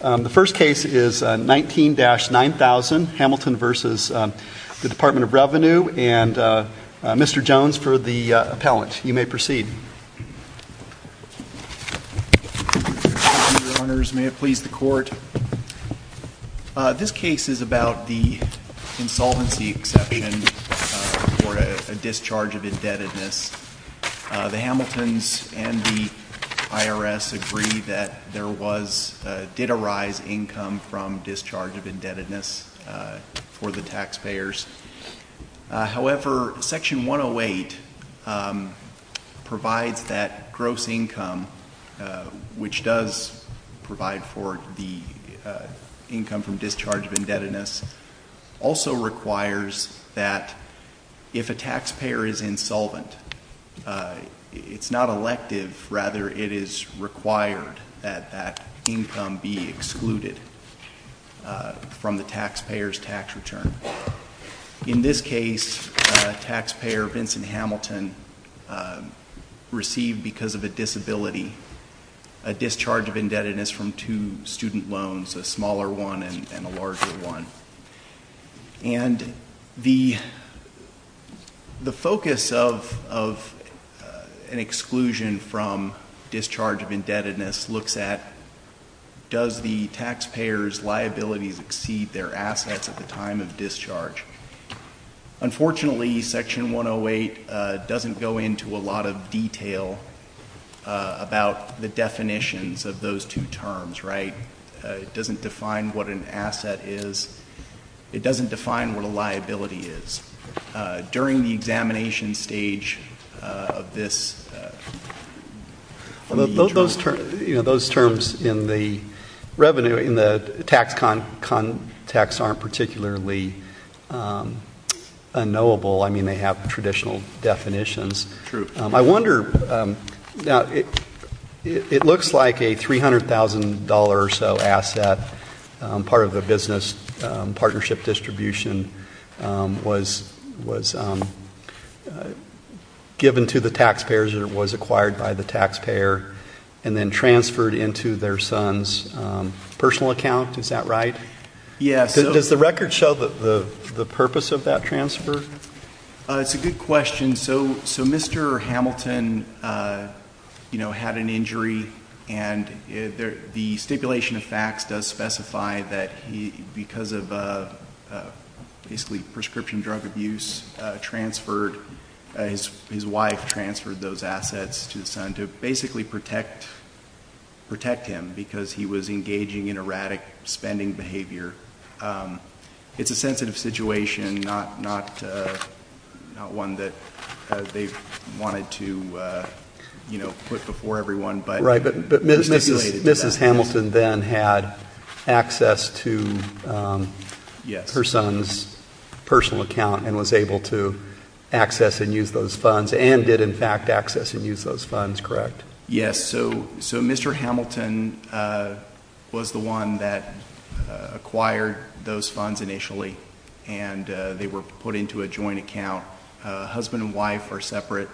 The first case is 19-9000, Hamilton v. Department of Revenue, and Mr. Jones for the appellant. You may proceed. Your Honor, may it please the Court. This case is about the insolvency exception for a discharge of indebtedness. The Hamiltons and the IRS agree that there was, did arise income from discharge of indebtedness for the taxpayers. However, section 108 provides that gross income, which does provide for the income from discharge of indebtedness. Also requires that if a taxpayer is insolvent, it's not elective, rather it is required that that income be excluded from the taxpayer's tax return. In this case, taxpayer Vincent Hamilton received, because of a disability, a discharge of indebtedness from two student loans, a smaller one and a larger one. And the focus of an exclusion from discharge of indebtedness looks at, does the taxpayer's liabilities exceed their assets at the time of discharge? Unfortunately, section 108 doesn't go into a lot of detail about the definitions of those two terms, right? It doesn't define what an asset is. It doesn't define what a liability is. During the examination stage of this. Those terms in the revenue, in the tax context aren't particularly unknowable. I mean, they have traditional definitions. True. I wonder, now it looks like a $300,000 or so asset. Part of the business partnership distribution was given to the taxpayers or was acquired by the taxpayer and then transferred into their son's personal account, is that right? Yes. Does the record show the purpose of that transfer? It's a good question. So Mr. Hamilton had an injury and the stipulation of facts does specify that he, because of basically prescription drug abuse, transferred, his wife transferred those assets to the son to basically protect him because he was engaging in erratic spending behavior. It's a sensitive situation, not one that they wanted to put before everyone, but- Right, but Mrs. Hamilton then had access to her son's personal account and was able to access and use those funds, and did in fact access and use those funds, correct? Yes, so Mr. Hamilton was the one that acquired those funds initially. And they were put into a joint account. Husband and wife are separate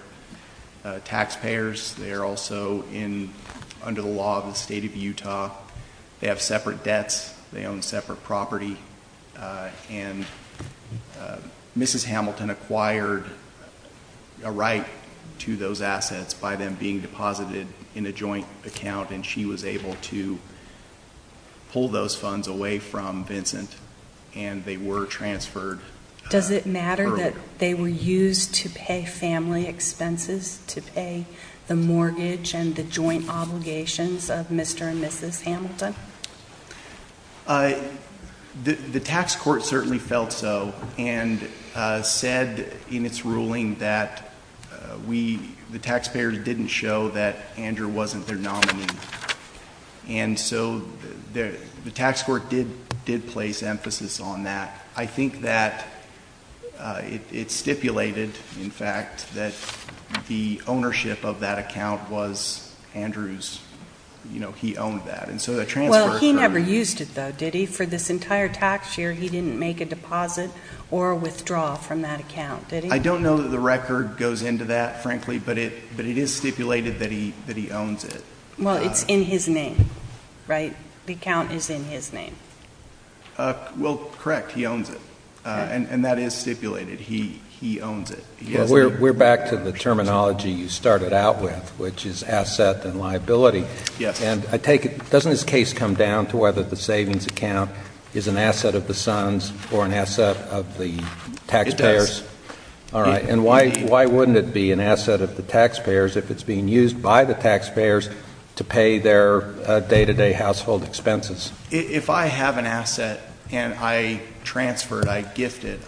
taxpayers. They are also under the law of the state of Utah. They have separate debts. They own separate property. And Mrs. Hamilton acquired a right to those assets by them being deposited in a joint account, and she was able to pull those funds away from Vincent, and they were transferred. Does it matter that they were used to pay family expenses, to pay the mortgage and the joint obligations of Mr. and Mrs. Hamilton? The tax court certainly felt so, and said in its ruling that the taxpayers didn't show that Andrew wasn't their nominee. And so the tax court did place emphasis on that. I think that it stipulated, in fact, that the ownership of that account was Andrew's, he owned that. Well, he never used it though, did he? For this entire tax year, he didn't make a deposit or withdraw from that account, did he? I don't know that the record goes into that, frankly, but it is stipulated that he owns it. Well, it's in his name, right? The account is in his name. Well, correct, he owns it, and that is stipulated, he owns it. We're back to the terminology you started out with, which is asset and liability. Yes. And I take it, doesn't this case come down to whether the savings account is an asset of the sons or an asset of the taxpayers? It does. All right, and why wouldn't it be an asset of the taxpayers if it's being used by the taxpayers to pay their day-to-day household expenses? If I have an asset and I transfer it, I gift it,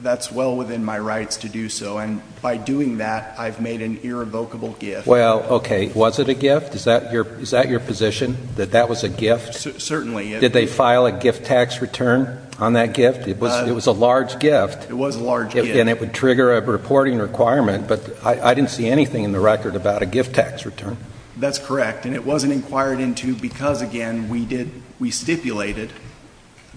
that's well within my rights to do so. And by doing that, I've made an irrevocable gift. Well, okay, was it a gift? Is that your position, that that was a gift? Certainly. Did they file a gift tax return on that gift? It was a large gift. It was a large gift. And it would trigger a reporting requirement, but I didn't see anything in the record about a gift tax return. That's correct, and it wasn't inquired into because, again, we stipulated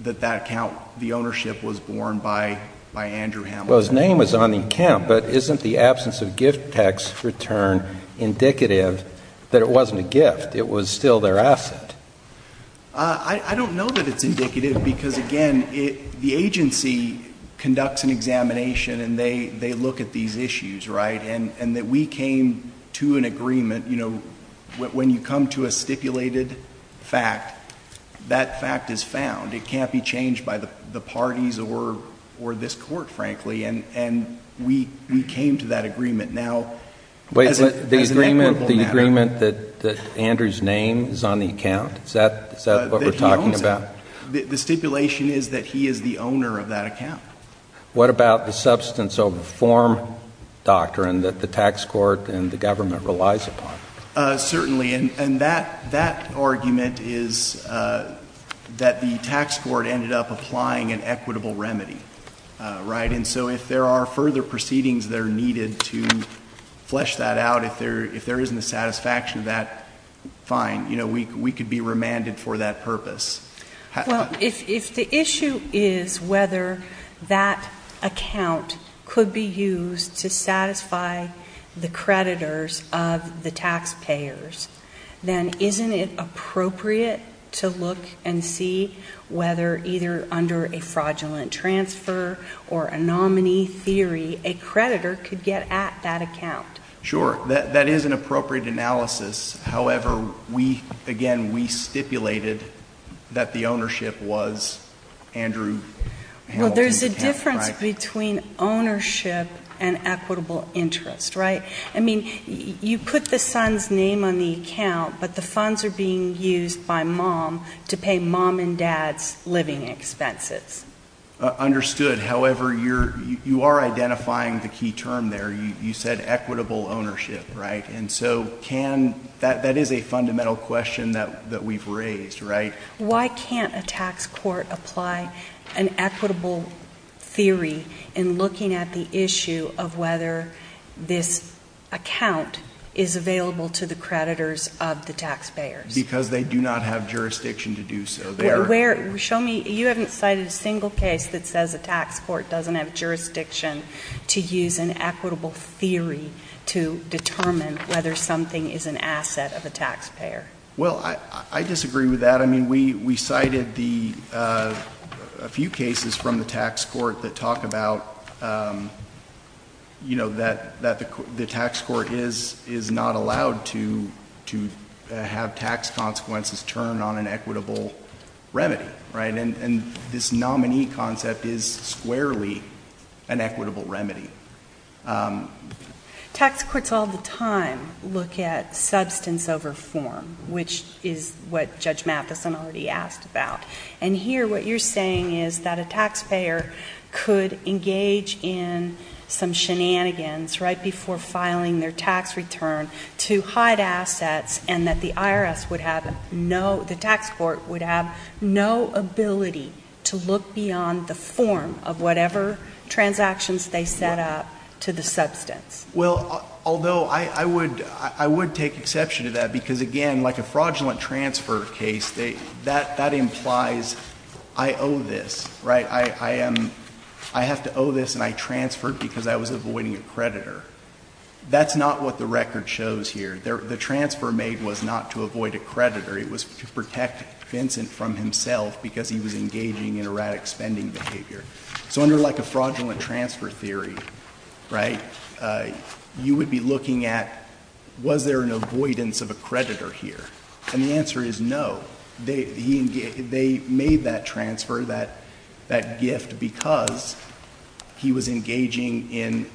that that account, the ownership, was borne by Andrew Hamilton. Well, his name was on the account, but isn't the absence of a gift tax return indicative that it wasn't a gift? It was still their asset. I don't know that it's indicative because, again, the agency conducts an examination and they look at these issues, right, and that we came to an agreement. You know, when you come to a stipulated fact, that fact is found. It can't be changed by the parties or this court, frankly, and we came to that agreement. Now, as an equitable matter- Wait, the agreement that Andrew's name is on the account, is that what we're talking about? That he owns it. The stipulation is that he is the owner of that account. What about the substance of the form doctrine that the tax court and the government relies upon? Certainly, and that argument is that the tax court ended up applying an equitable remedy, right? And so if there are further proceedings that are needed to flesh that out, if there isn't a satisfaction of that, fine. We could be remanded for that purpose. Well, if the issue is whether that account could be used to satisfy the creditors of the taxpayers, then isn't it appropriate to look and see whether either under a fraudulent transfer or a nominee theory, a creditor could get at that account? Sure, that is an appropriate analysis. However, we, again, we stipulated that the ownership was Andrew Hamilton's account, right? I mean, you put the son's name on the account, but the funds are being used by mom to pay mom and dad's living expenses. Understood, however, you are identifying the key term there. You said equitable ownership, right? And so can, that is a fundamental question that we've raised, right? Why can't a tax court apply an equitable theory in looking at the issue of whether this account is available to the creditors of the taxpayers? Because they do not have jurisdiction to do so. They're- Show me, you haven't cited a single case that says a tax court doesn't have jurisdiction to use an equitable theory to determine whether something is an asset of a taxpayer. Well, I disagree with that. I mean, we cited a few cases from the tax court that talk about that the tax court is not allowed to have tax consequences turn on an equitable remedy, right? And this nominee concept is squarely an equitable remedy. Tax courts all the time look at substance over form, which is what Judge Mathison already asked about. And here, what you're saying is that a taxpayer could engage in some shenanigans right before filing their tax return to hide assets and that the IRS would have no, the tax court would have no ability to look beyond the form of whatever transactions they set up to the substance. Well, although I would take exception to that because again, in like a fraudulent transfer case, that implies I owe this, right? I have to owe this and I transferred because I was avoiding a creditor. That's not what the record shows here. The transfer made was not to avoid a creditor. It was to protect Vincent from himself because he was engaging in erratic spending behavior. So under like a fraudulent transfer theory, right, you would be looking at was there an avoidance of a creditor here? And the answer is no. They made that transfer, that gift, because he was engaging in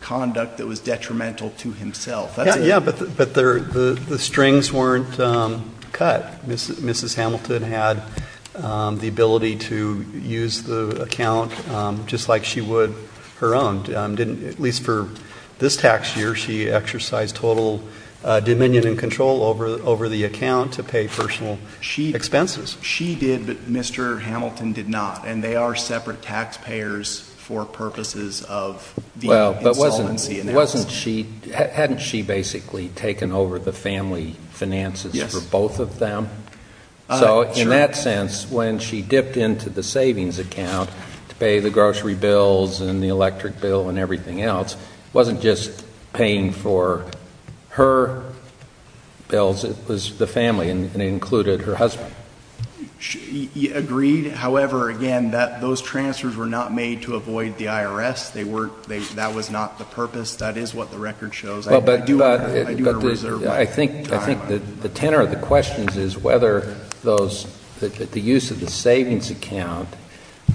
conduct that was detrimental to himself. That's it. Yeah, but the strings weren't cut. Mrs. Hamilton had the ability to use the account just like she would her own. Didn't, at least for this tax year, she exercised total dominion and control over the account to pay personal expenses. She did, but Mr. Hamilton did not, and they are separate taxpayers for purposes of the insolvency analysis. Well, but wasn't she, hadn't she basically taken over the family finances for both of them? So in that sense, when she dipped into the savings account to pay the grocery bills and the electric bill and everything else, it wasn't just paying for her bills. It was the family, and it included her husband. Agreed, however, again, that those transfers were not made to avoid the IRS. That was not the purpose. That is what the record shows. I do want to reserve my time. I think the tenor of the questions is whether the use of the savings account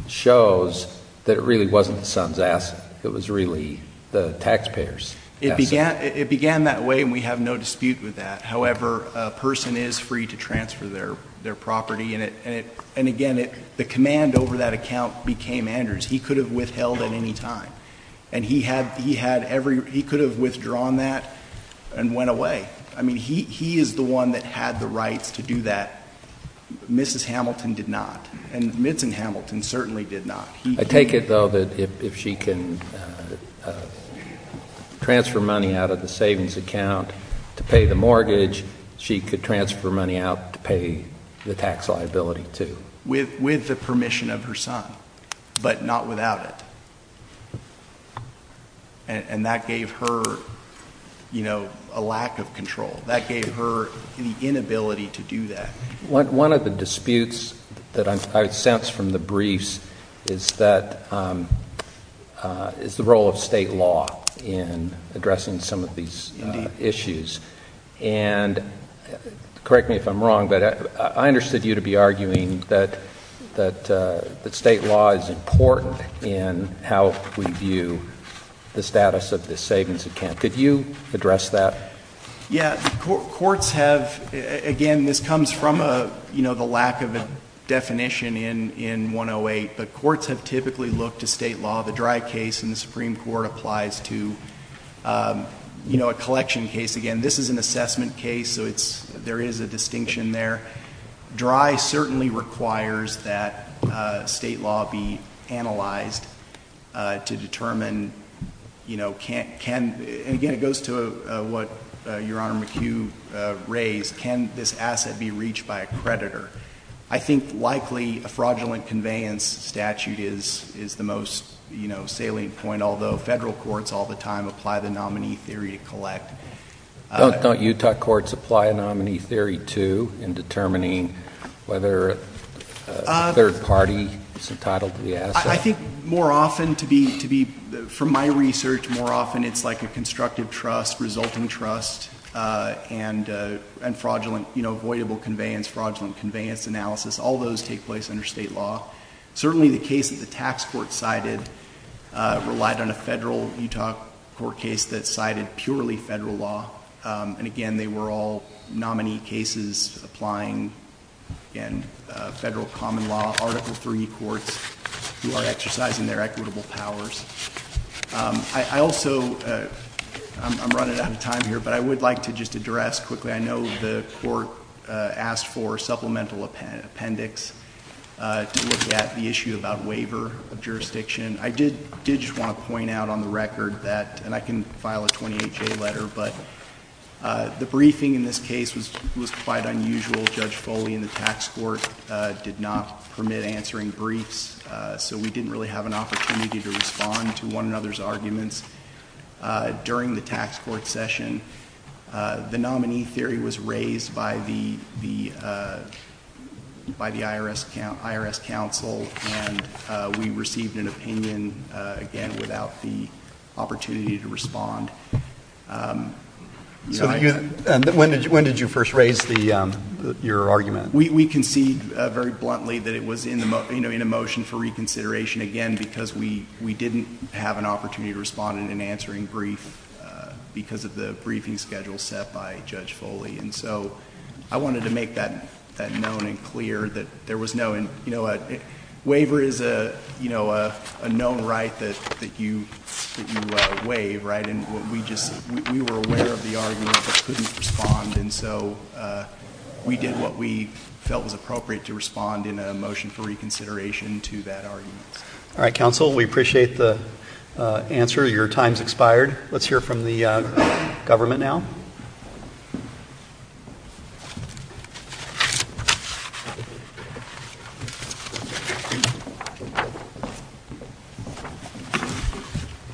shows that it really wasn't the son's asset, it was really the taxpayer's asset. It began that way, and we have no dispute with that. However, a person is free to transfer their property, and again, the command over that account became Andrew's. He could have withheld at any time, and he could have withdrawn that and went away. I mean, he is the one that had the rights to do that, Mrs. Hamilton did not. And Midson Hamilton certainly did not. I take it, though, that if she can transfer money out of the savings account to pay the mortgage, she could transfer money out to pay the tax liability, too. With the permission of her son, but not without it. And that gave her a lack of control. That gave her the inability to do that. One of the disputes that I would sense from the briefs is that, is the role of state law in addressing some of these issues. And correct me if I'm wrong, but I understood you to be arguing that state law is important in how we view the status of the savings account. Could you address that? Yeah, courts have, again, this comes from the lack of a definition in 108. But courts have typically looked to state law. The Dry case in the Supreme Court applies to a collection case. Again, this is an assessment case, so there is a distinction there. Dry certainly requires that state law be analyzed to determine, and again, it goes to what Your Honor McHugh raised, can this asset be reached by a creditor? I think, likely, a fraudulent conveyance statute is the most salient point. Although, federal courts all the time apply the nominee theory to collect. Don't Utah courts apply a nominee theory, too, in determining whether a third party is entitled to the asset? I think more often, from my research, more often it's like a constructive trust, resulting trust, and fraudulent, avoidable conveyance, fraudulent conveyance analysis. All those take place under state law. Certainly, the case that the tax court cited relied on a federal Utah court case that cited purely federal law. And again, they were all nominee cases applying in federal common law, Article III courts who are exercising their equitable powers. I also, I'm running out of time here, but I would like to just address quickly, I know the court asked for supplemental appendix to look at the issue about waiver of jurisdiction. I did just want to point out on the record that, and I can file a 28-J letter, but the briefing in this case was quite unusual. Judge Foley and the tax court did not permit answering briefs, so we didn't really have an opportunity to respond to one another's arguments during the tax court session. The nominee theory was raised by the IRS counsel, and we received an opinion, again, without the opportunity to respond. When did you first raise your argument? We concede very bluntly that it was in a motion for reconsideration, again, because we didn't have an opportunity to respond in an answering brief because of the briefing schedule set by Judge Foley. And so, I wanted to make that known and clear that there was no, waiver is a known right that you waive, right? We were aware of the argument, but couldn't respond, and so we did what we felt was appropriate to respond in a motion for reconsideration to that argument. All right, counsel, we appreciate the answer. Your time's expired. Let's hear from the government now.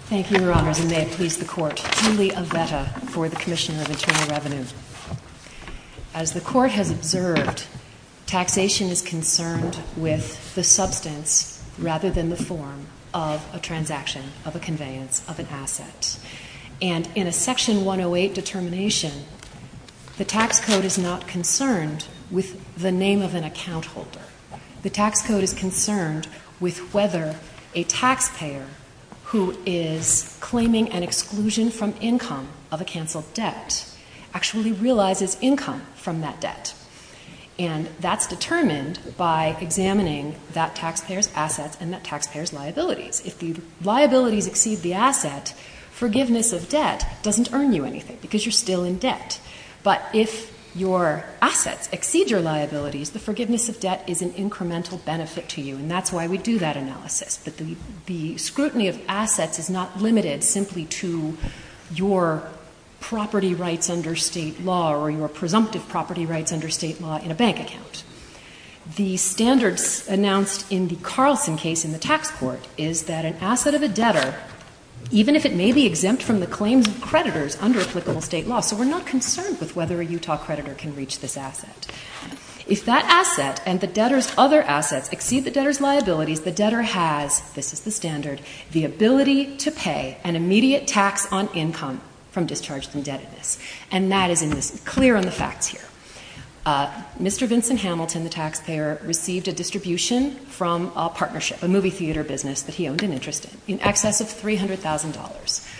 Thank you, Your Honors, and may it please the court. Julie Avetta for the Commissioner of Internal Revenue. As the court has observed, taxation is concerned with the substance rather than the form of a transaction of a conveyance of an asset. And in a section 108 determination, the tax code is not concerned with the name of an account holder. The tax code is concerned with whether a taxpayer who is claiming an exclusion from income of a canceled debt actually realizes income from that debt. And that's determined by examining that taxpayer's assets and that taxpayer's liabilities. If the liabilities exceed the asset, forgiveness of debt doesn't earn you anything because you're still in debt. But if your assets exceed your liabilities, the forgiveness of debt is an incremental benefit to you, and that's why we do that analysis. But the scrutiny of assets is not limited simply to your property rights under state law or your presumptive property rights under state law in a bank account. The standards announced in the Carlson case in the tax court is that an asset of a debtor, even if it may be exempt from the claims of creditors under applicable state law, so we're not concerned with whether a Utah creditor can reach this asset. If that asset and the debtor's other assets exceed the debtor's liabilities, the debtor has, this is the standard, the ability to pay an immediate tax on income from discharge from debtedness. And that is clear on the facts here. Mr. Vincent Hamilton, the taxpayer, received a distribution from a partnership, a movie theater business that he owned an interest in, in excess of $300,000.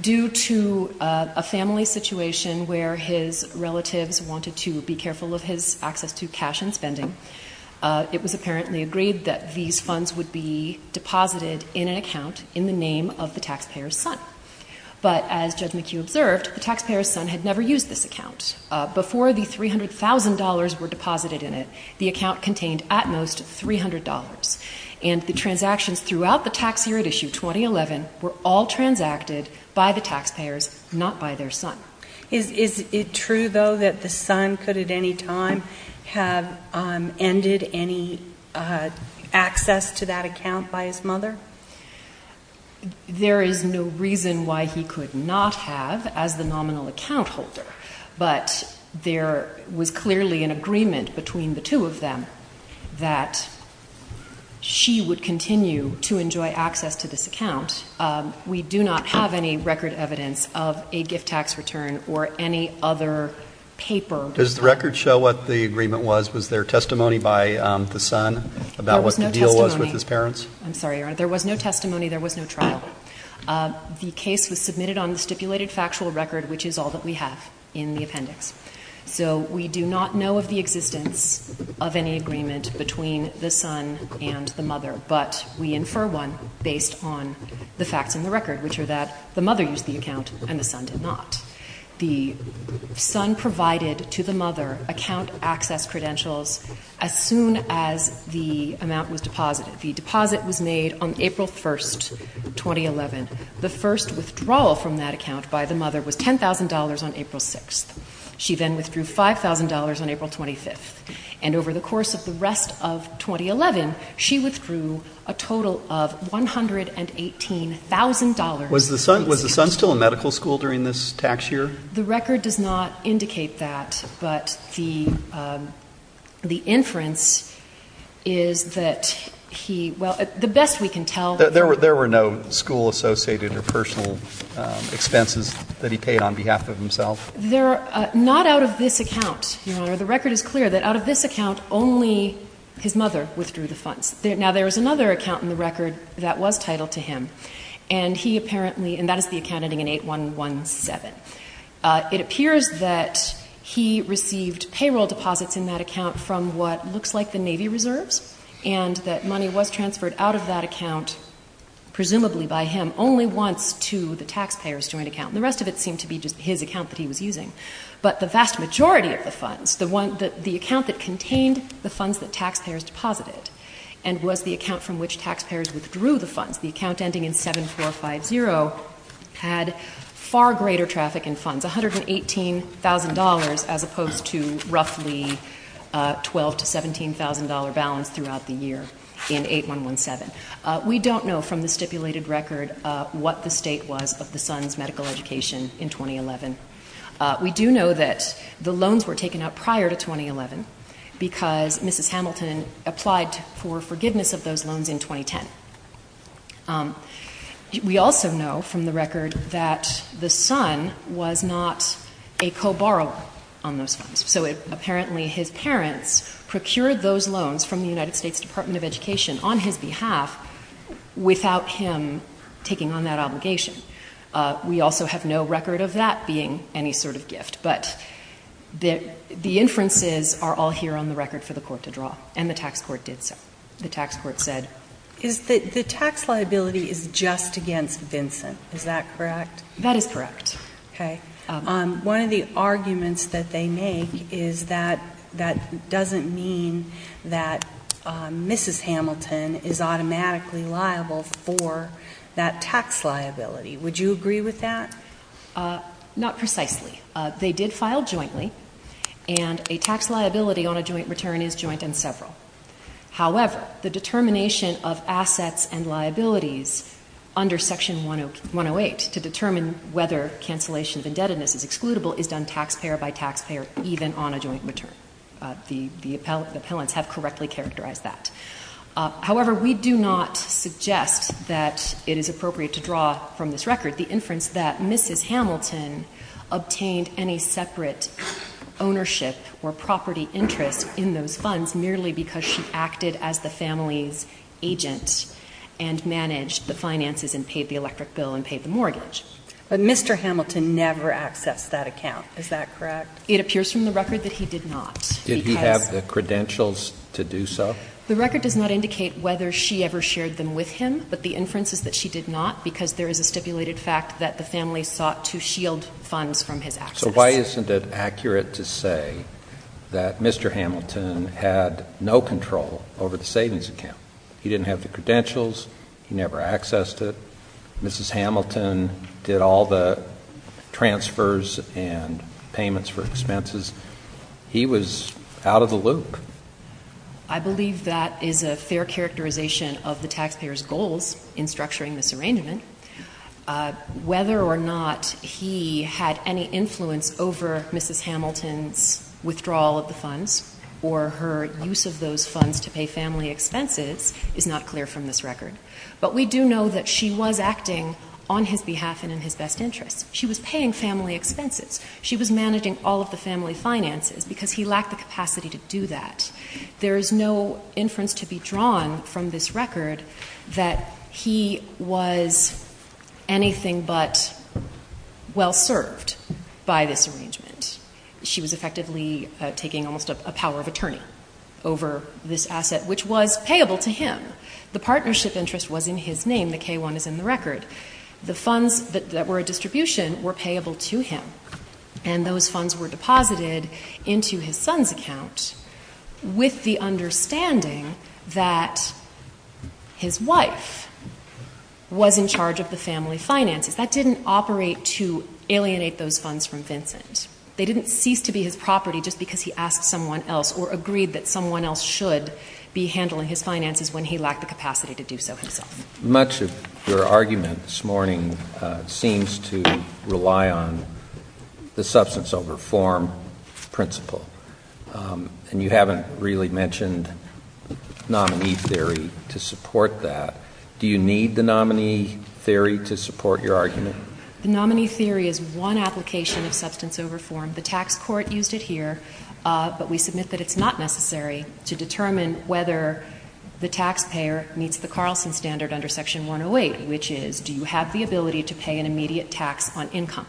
Due to a family situation where his relatives wanted to be careful of his access to cash and spending, it was apparently agreed that these funds would be deposited in an account in the name of the taxpayer's son. But as Judge McHugh observed, the taxpayer's son had never used this account. Before the $300,000 were deposited in it, the account contained at most $300. And the transactions throughout the tax year at issue 2011 were all transacted by the taxpayers, not by their son. Is it true though that the son could at any time have ended any access to that account by his mother? There is no reason why he could not have as the nominal account holder. But there was clearly an agreement between the two of them that she would continue to enjoy access to this account. We do not have any record evidence of a gift tax return or any other paper. Does the record show what the agreement was? Was there testimony by the son about what the deal was with his parents? I'm sorry, there was no testimony, there was no trial. The case was submitted on the stipulated factual record, which is all that we have in the appendix. So we do not know of the existence of any agreement between the son and the mother. But we infer one based on the facts in the record, which are that the mother used the account and the son did not. The son provided to the mother account access credentials as soon as the amount was deposited. The deposit was made on April 1st, 2011. The first withdrawal from that account by the mother was $10,000 on April 6th. She then withdrew $5,000 on April 25th. And over the course of the rest of 2011, she withdrew a total of $118,000. Was the son still in medical school during this tax year? The record does not indicate that. But the inference is that he, well, the best we can tell- There were no school associated or personal expenses that he paid on behalf of himself? Not out of this account, Your Honor. The record is clear that out of this account, only his mother withdrew the funds. Now, there was another account in the record that was titled to him. And he apparently, and that is the account ending in 8117. It appears that he received payroll deposits in that account from what looks like the Navy reserves. And that money was transferred out of that account, presumably by him, only once to the taxpayer's joint account. And the rest of it seemed to be just his account that he was using. But the vast majority of the funds, the account that contained the funds that taxpayers deposited, and was the account from which taxpayers withdrew the funds, the account ending in 7450, had far greater traffic in funds, $118,000 as opposed to roughly a $12,000 to $17,000 balance throughout the year in 8117. We don't know from the stipulated record what the state was of the son's medical education in 2011. We do know that the loans were taken out prior to 2011 because Mrs. Hamilton applied for forgiveness of those loans in 2010. We also know from the record that the son was not a co-borrower on those funds. So apparently his parents procured those loans from the United States Department of Education on his behalf. Without him taking on that obligation. We also have no record of that being any sort of gift. But the inferences are all here on the record for the court to draw, and the tax court did so. The tax court said. Is the tax liability is just against Vincent, is that correct? That is correct. Okay. One of the arguments that they make is that that doesn't mean that Mrs. Hamilton is automatically liable for that tax liability. Would you agree with that? Not precisely. They did file jointly, and a tax liability on a joint return is joint and several. However, the determination of assets and liabilities under section 108 to determine whether cancellation of indebtedness is excludable is done taxpayer by taxpayer, even on a joint return. The appellants have correctly characterized that. However, we do not suggest that it is appropriate to draw from this record the inference that Mrs. Hamilton obtained any separate ownership or because she acted as the family's agent and managed the finances and paid the electric bill and paid the mortgage. But Mr. Hamilton never accessed that account, is that correct? It appears from the record that he did not. Did he have the credentials to do so? The record does not indicate whether she ever shared them with him, but the inference is that she did not, because there is a stipulated fact that the family sought to shield funds from his access. So why isn't it accurate to say that Mr. Hamilton had no control over the savings account? He didn't have the credentials, he never accessed it. Mrs. Hamilton did all the transfers and payments for expenses. He was out of the loop. I believe that is a fair characterization of the taxpayer's goals in structuring this arrangement. Whether or not he had any influence over Mrs. Hamilton's withdrawal of the funds, or her use of those funds to pay family expenses, is not clear from this record. But we do know that she was acting on his behalf and in his best interest. She was paying family expenses. She was managing all of the family finances, because he lacked the capacity to do that. There is no inference to be drawn from this record that he was anything but well served by this arrangement. She was effectively taking almost a power of attorney over this asset, which was payable to him. The partnership interest was in his name, the K1 is in the record. The funds that were a distribution were payable to him. And those funds were deposited into his son's account with the understanding that his wife was in charge of the family finances. That didn't operate to alienate those funds from Vincent. They didn't cease to be his property just because he asked someone else or agreed that someone else should be handling his finances when he lacked the capacity to do so himself. Much of your argument this morning seems to rely on the substance over form principle. And you haven't really mentioned nominee theory to support that. Do you need the nominee theory to support your argument? The nominee theory is one application of substance over form. The tax court used it here, but we submit that it's not necessary to determine whether the taxpayer meets the Carlson standard under section 108, which is do you have the ability to pay an immediate tax on income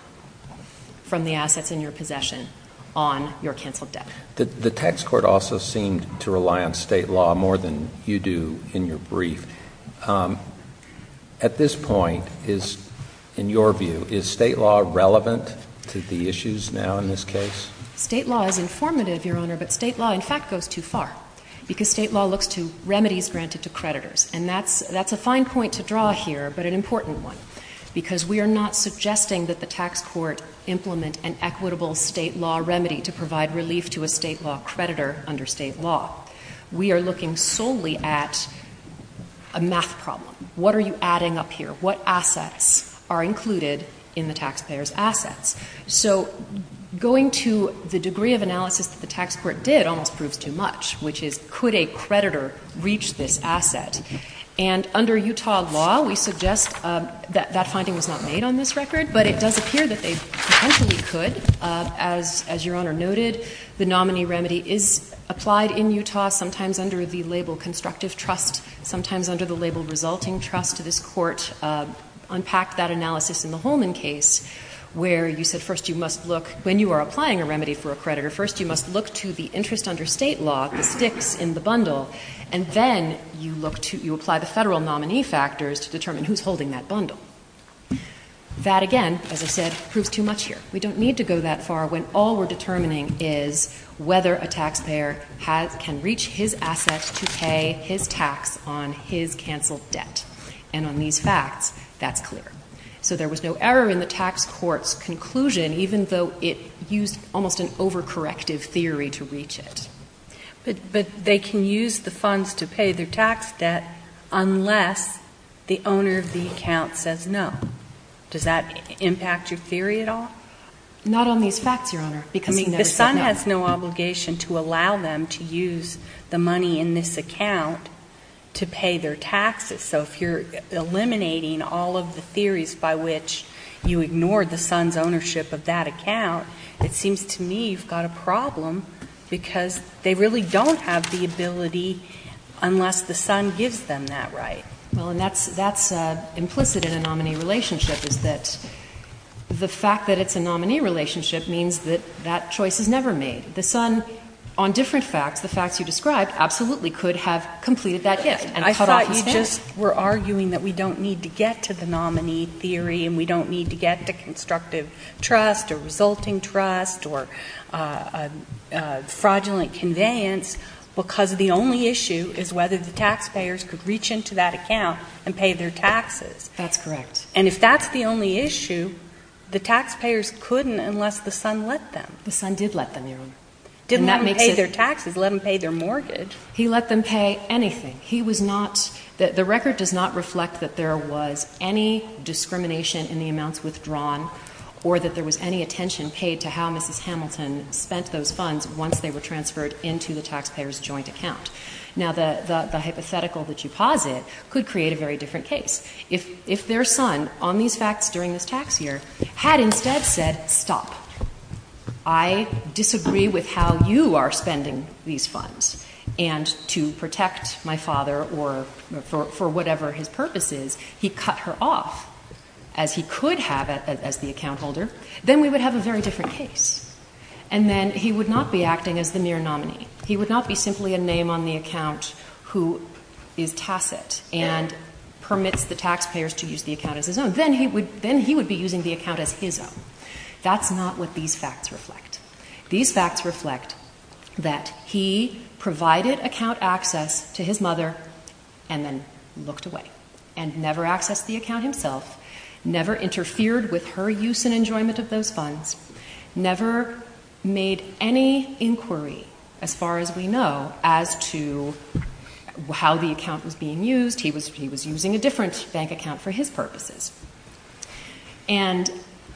from the assets in your possession on your canceled debt? The tax court also seemed to rely on state law more than you do in your brief. At this point, in your view, is state law relevant to the issues now in this case? State law is informative, Your Honor, but state law, in fact, goes too far. Because state law looks to remedies granted to creditors. And that's a fine point to draw here, but an important one. Because we are not suggesting that the tax court implement an equitable state law remedy to provide relief to a state law creditor under state law. We are looking solely at a math problem. What are you adding up here? What assets are included in the taxpayer's assets? So going to the degree of analysis that the tax court did almost proves too much, which is could a creditor reach this asset? And under Utah law, we suggest that that finding was not made on this record, but it does appear that they potentially could. As Your Honor noted, the nominee remedy is applied in Utah, sometimes under the label constructive trust. Sometimes under the label resulting trust to this court. Unpack that analysis in the Holman case, where you said first you must look, when you are applying a remedy for a creditor, first you must look to the interest under state law, the sticks in the bundle. And then you apply the federal nominee factors to determine who's holding that bundle. That again, as I said, proves too much here. We don't need to go that far when all we're determining is whether a taxpayer can reach his assets to pay his tax on his canceled debt. And on these facts, that's clear. So there was no error in the tax court's conclusion, even though it used almost an over-corrective theory to reach it. But they can use the funds to pay their tax debt unless the owner of the account says no. Does that impact your theory at all? Not on these facts, Your Honor, because he never said no. The son has no obligation to allow them to use the money in this account to pay their taxes. So if you're eliminating all of the theories by which you ignored the son's ownership of that account, it seems to me you've got a problem because they really don't have the ability unless the son gives them that right. Well, and that's implicit in a nominee relationship is that the fact that it's a nominee relationship means that that choice is never made. The son, on different facts, the facts you described, absolutely could have completed that gift and cut off his debt. We're arguing that we don't need to get to the nominee theory, and we don't need to get to constructive trust, or resulting trust, or fraudulent conveyance, because the only issue is whether the taxpayers could reach into that account and pay their taxes. That's correct. And if that's the only issue, the taxpayers couldn't unless the son let them. The son did let them, Your Honor. Didn't let them pay their taxes, let them pay their mortgage. He let them pay anything. He was not, the record does not reflect that there was any discrimination in the amounts withdrawn, or that there was any attention paid to how Mrs. Hamilton spent those funds once they were transferred into the taxpayer's joint account. Now, the hypothetical that you posit could create a very different case. If their son, on these facts during this tax year, had instead said, stop. I disagree with how you are spending these funds. And to protect my father, or for whatever his purpose is, he cut her off as he could have as the account holder, then we would have a very different case. And then he would not be acting as the mere nominee. He would not be simply a name on the account who is tacit and permits the taxpayers to use the account as his own. Then he would be using the account as his own. That's not what these facts reflect. These facts reflect that he provided account access to his mother, and then looked away. And never accessed the account himself, never interfered with her use and enjoyment of those funds. Never made any inquiry, as far as we know, as to how the account was being used. He was using a different bank account for his purposes. And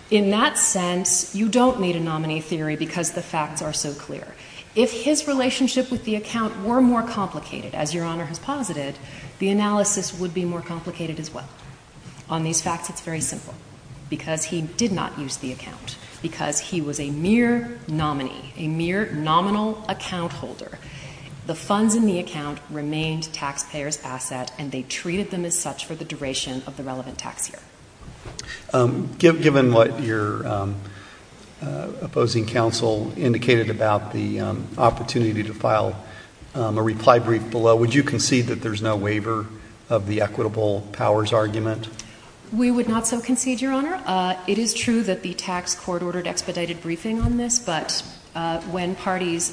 in that sense, you don't need a nominee theory because the facts are so clear. If his relationship with the account were more complicated, as your honor has posited, the analysis would be more complicated as well. On these facts, it's very simple, because he did not use the account, because he was a mere nominee, a mere nominal account holder. The funds in the account remained taxpayers' asset, and they treated them as such for the duration of the relevant tax year. Given what your opposing counsel indicated about the opportunity to file a reply brief below, would you concede that there's no waiver of the equitable powers argument? We would not so concede, your honor. It is true that the tax court ordered expedited briefing on this, but when parties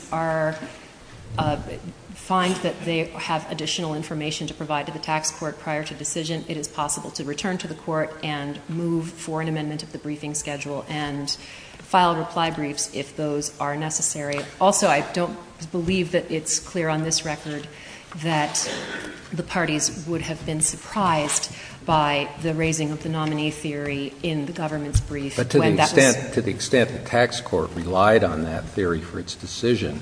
find that they have additional information to provide to the tax court prior to decision, it is possible to return to the court and move for an amendment of the briefing schedule and file reply briefs if those are necessary. Also, I don't believe that it's clear on this record that the parties would have been surprised by the raising of the nominee theory in the government's brief when that was- To the extent the tax court relied on that theory for its decision,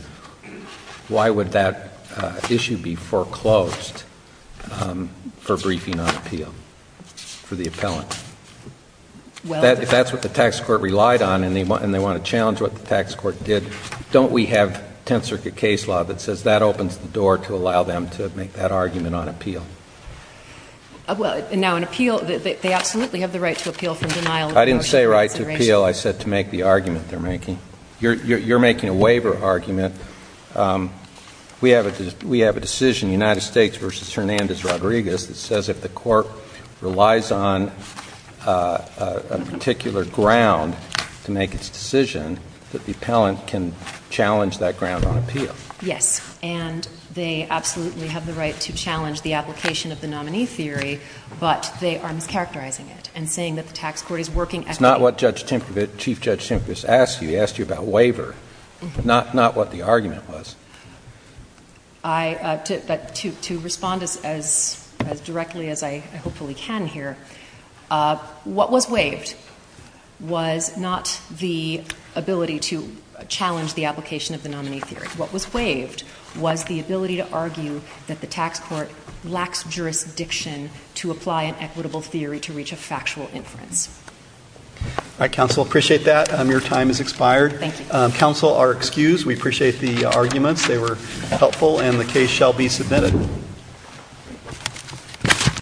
why would that issue be foreclosed for briefing on appeal for the appellant? If that's what the tax court relied on and they want to challenge what the tax court did, don't we have tenth circuit case law that says that opens the door to allow them to make that argument on appeal? Well, now an appeal, they absolutely have the right to appeal from denial of- I didn't say right to appeal, I said to make the argument they're making. You're making a waiver argument. We have a decision, United States versus Hernandez Rodriguez, that says if the court relies on a particular ground to make its decision, that the appellant can challenge that ground on appeal. Yes, and they absolutely have the right to challenge the application of the nominee theory, but they are mischaracterizing it and saying that the tax court is working at- That's not what Chief Judge Timkevits asked you, he asked you about waiver, not what the argument was. I, to respond as directly as I hopefully can here, what was waived was not the ability to challenge the application of the nominee theory. What was waived was the ability to argue that the tax court lacks jurisdiction to apply an equitable theory to reach a factual inference. All right, counsel, appreciate that. Your time has expired. Thank you. Counsel are excused. We appreciate the arguments. They were helpful, and the case shall be submitted.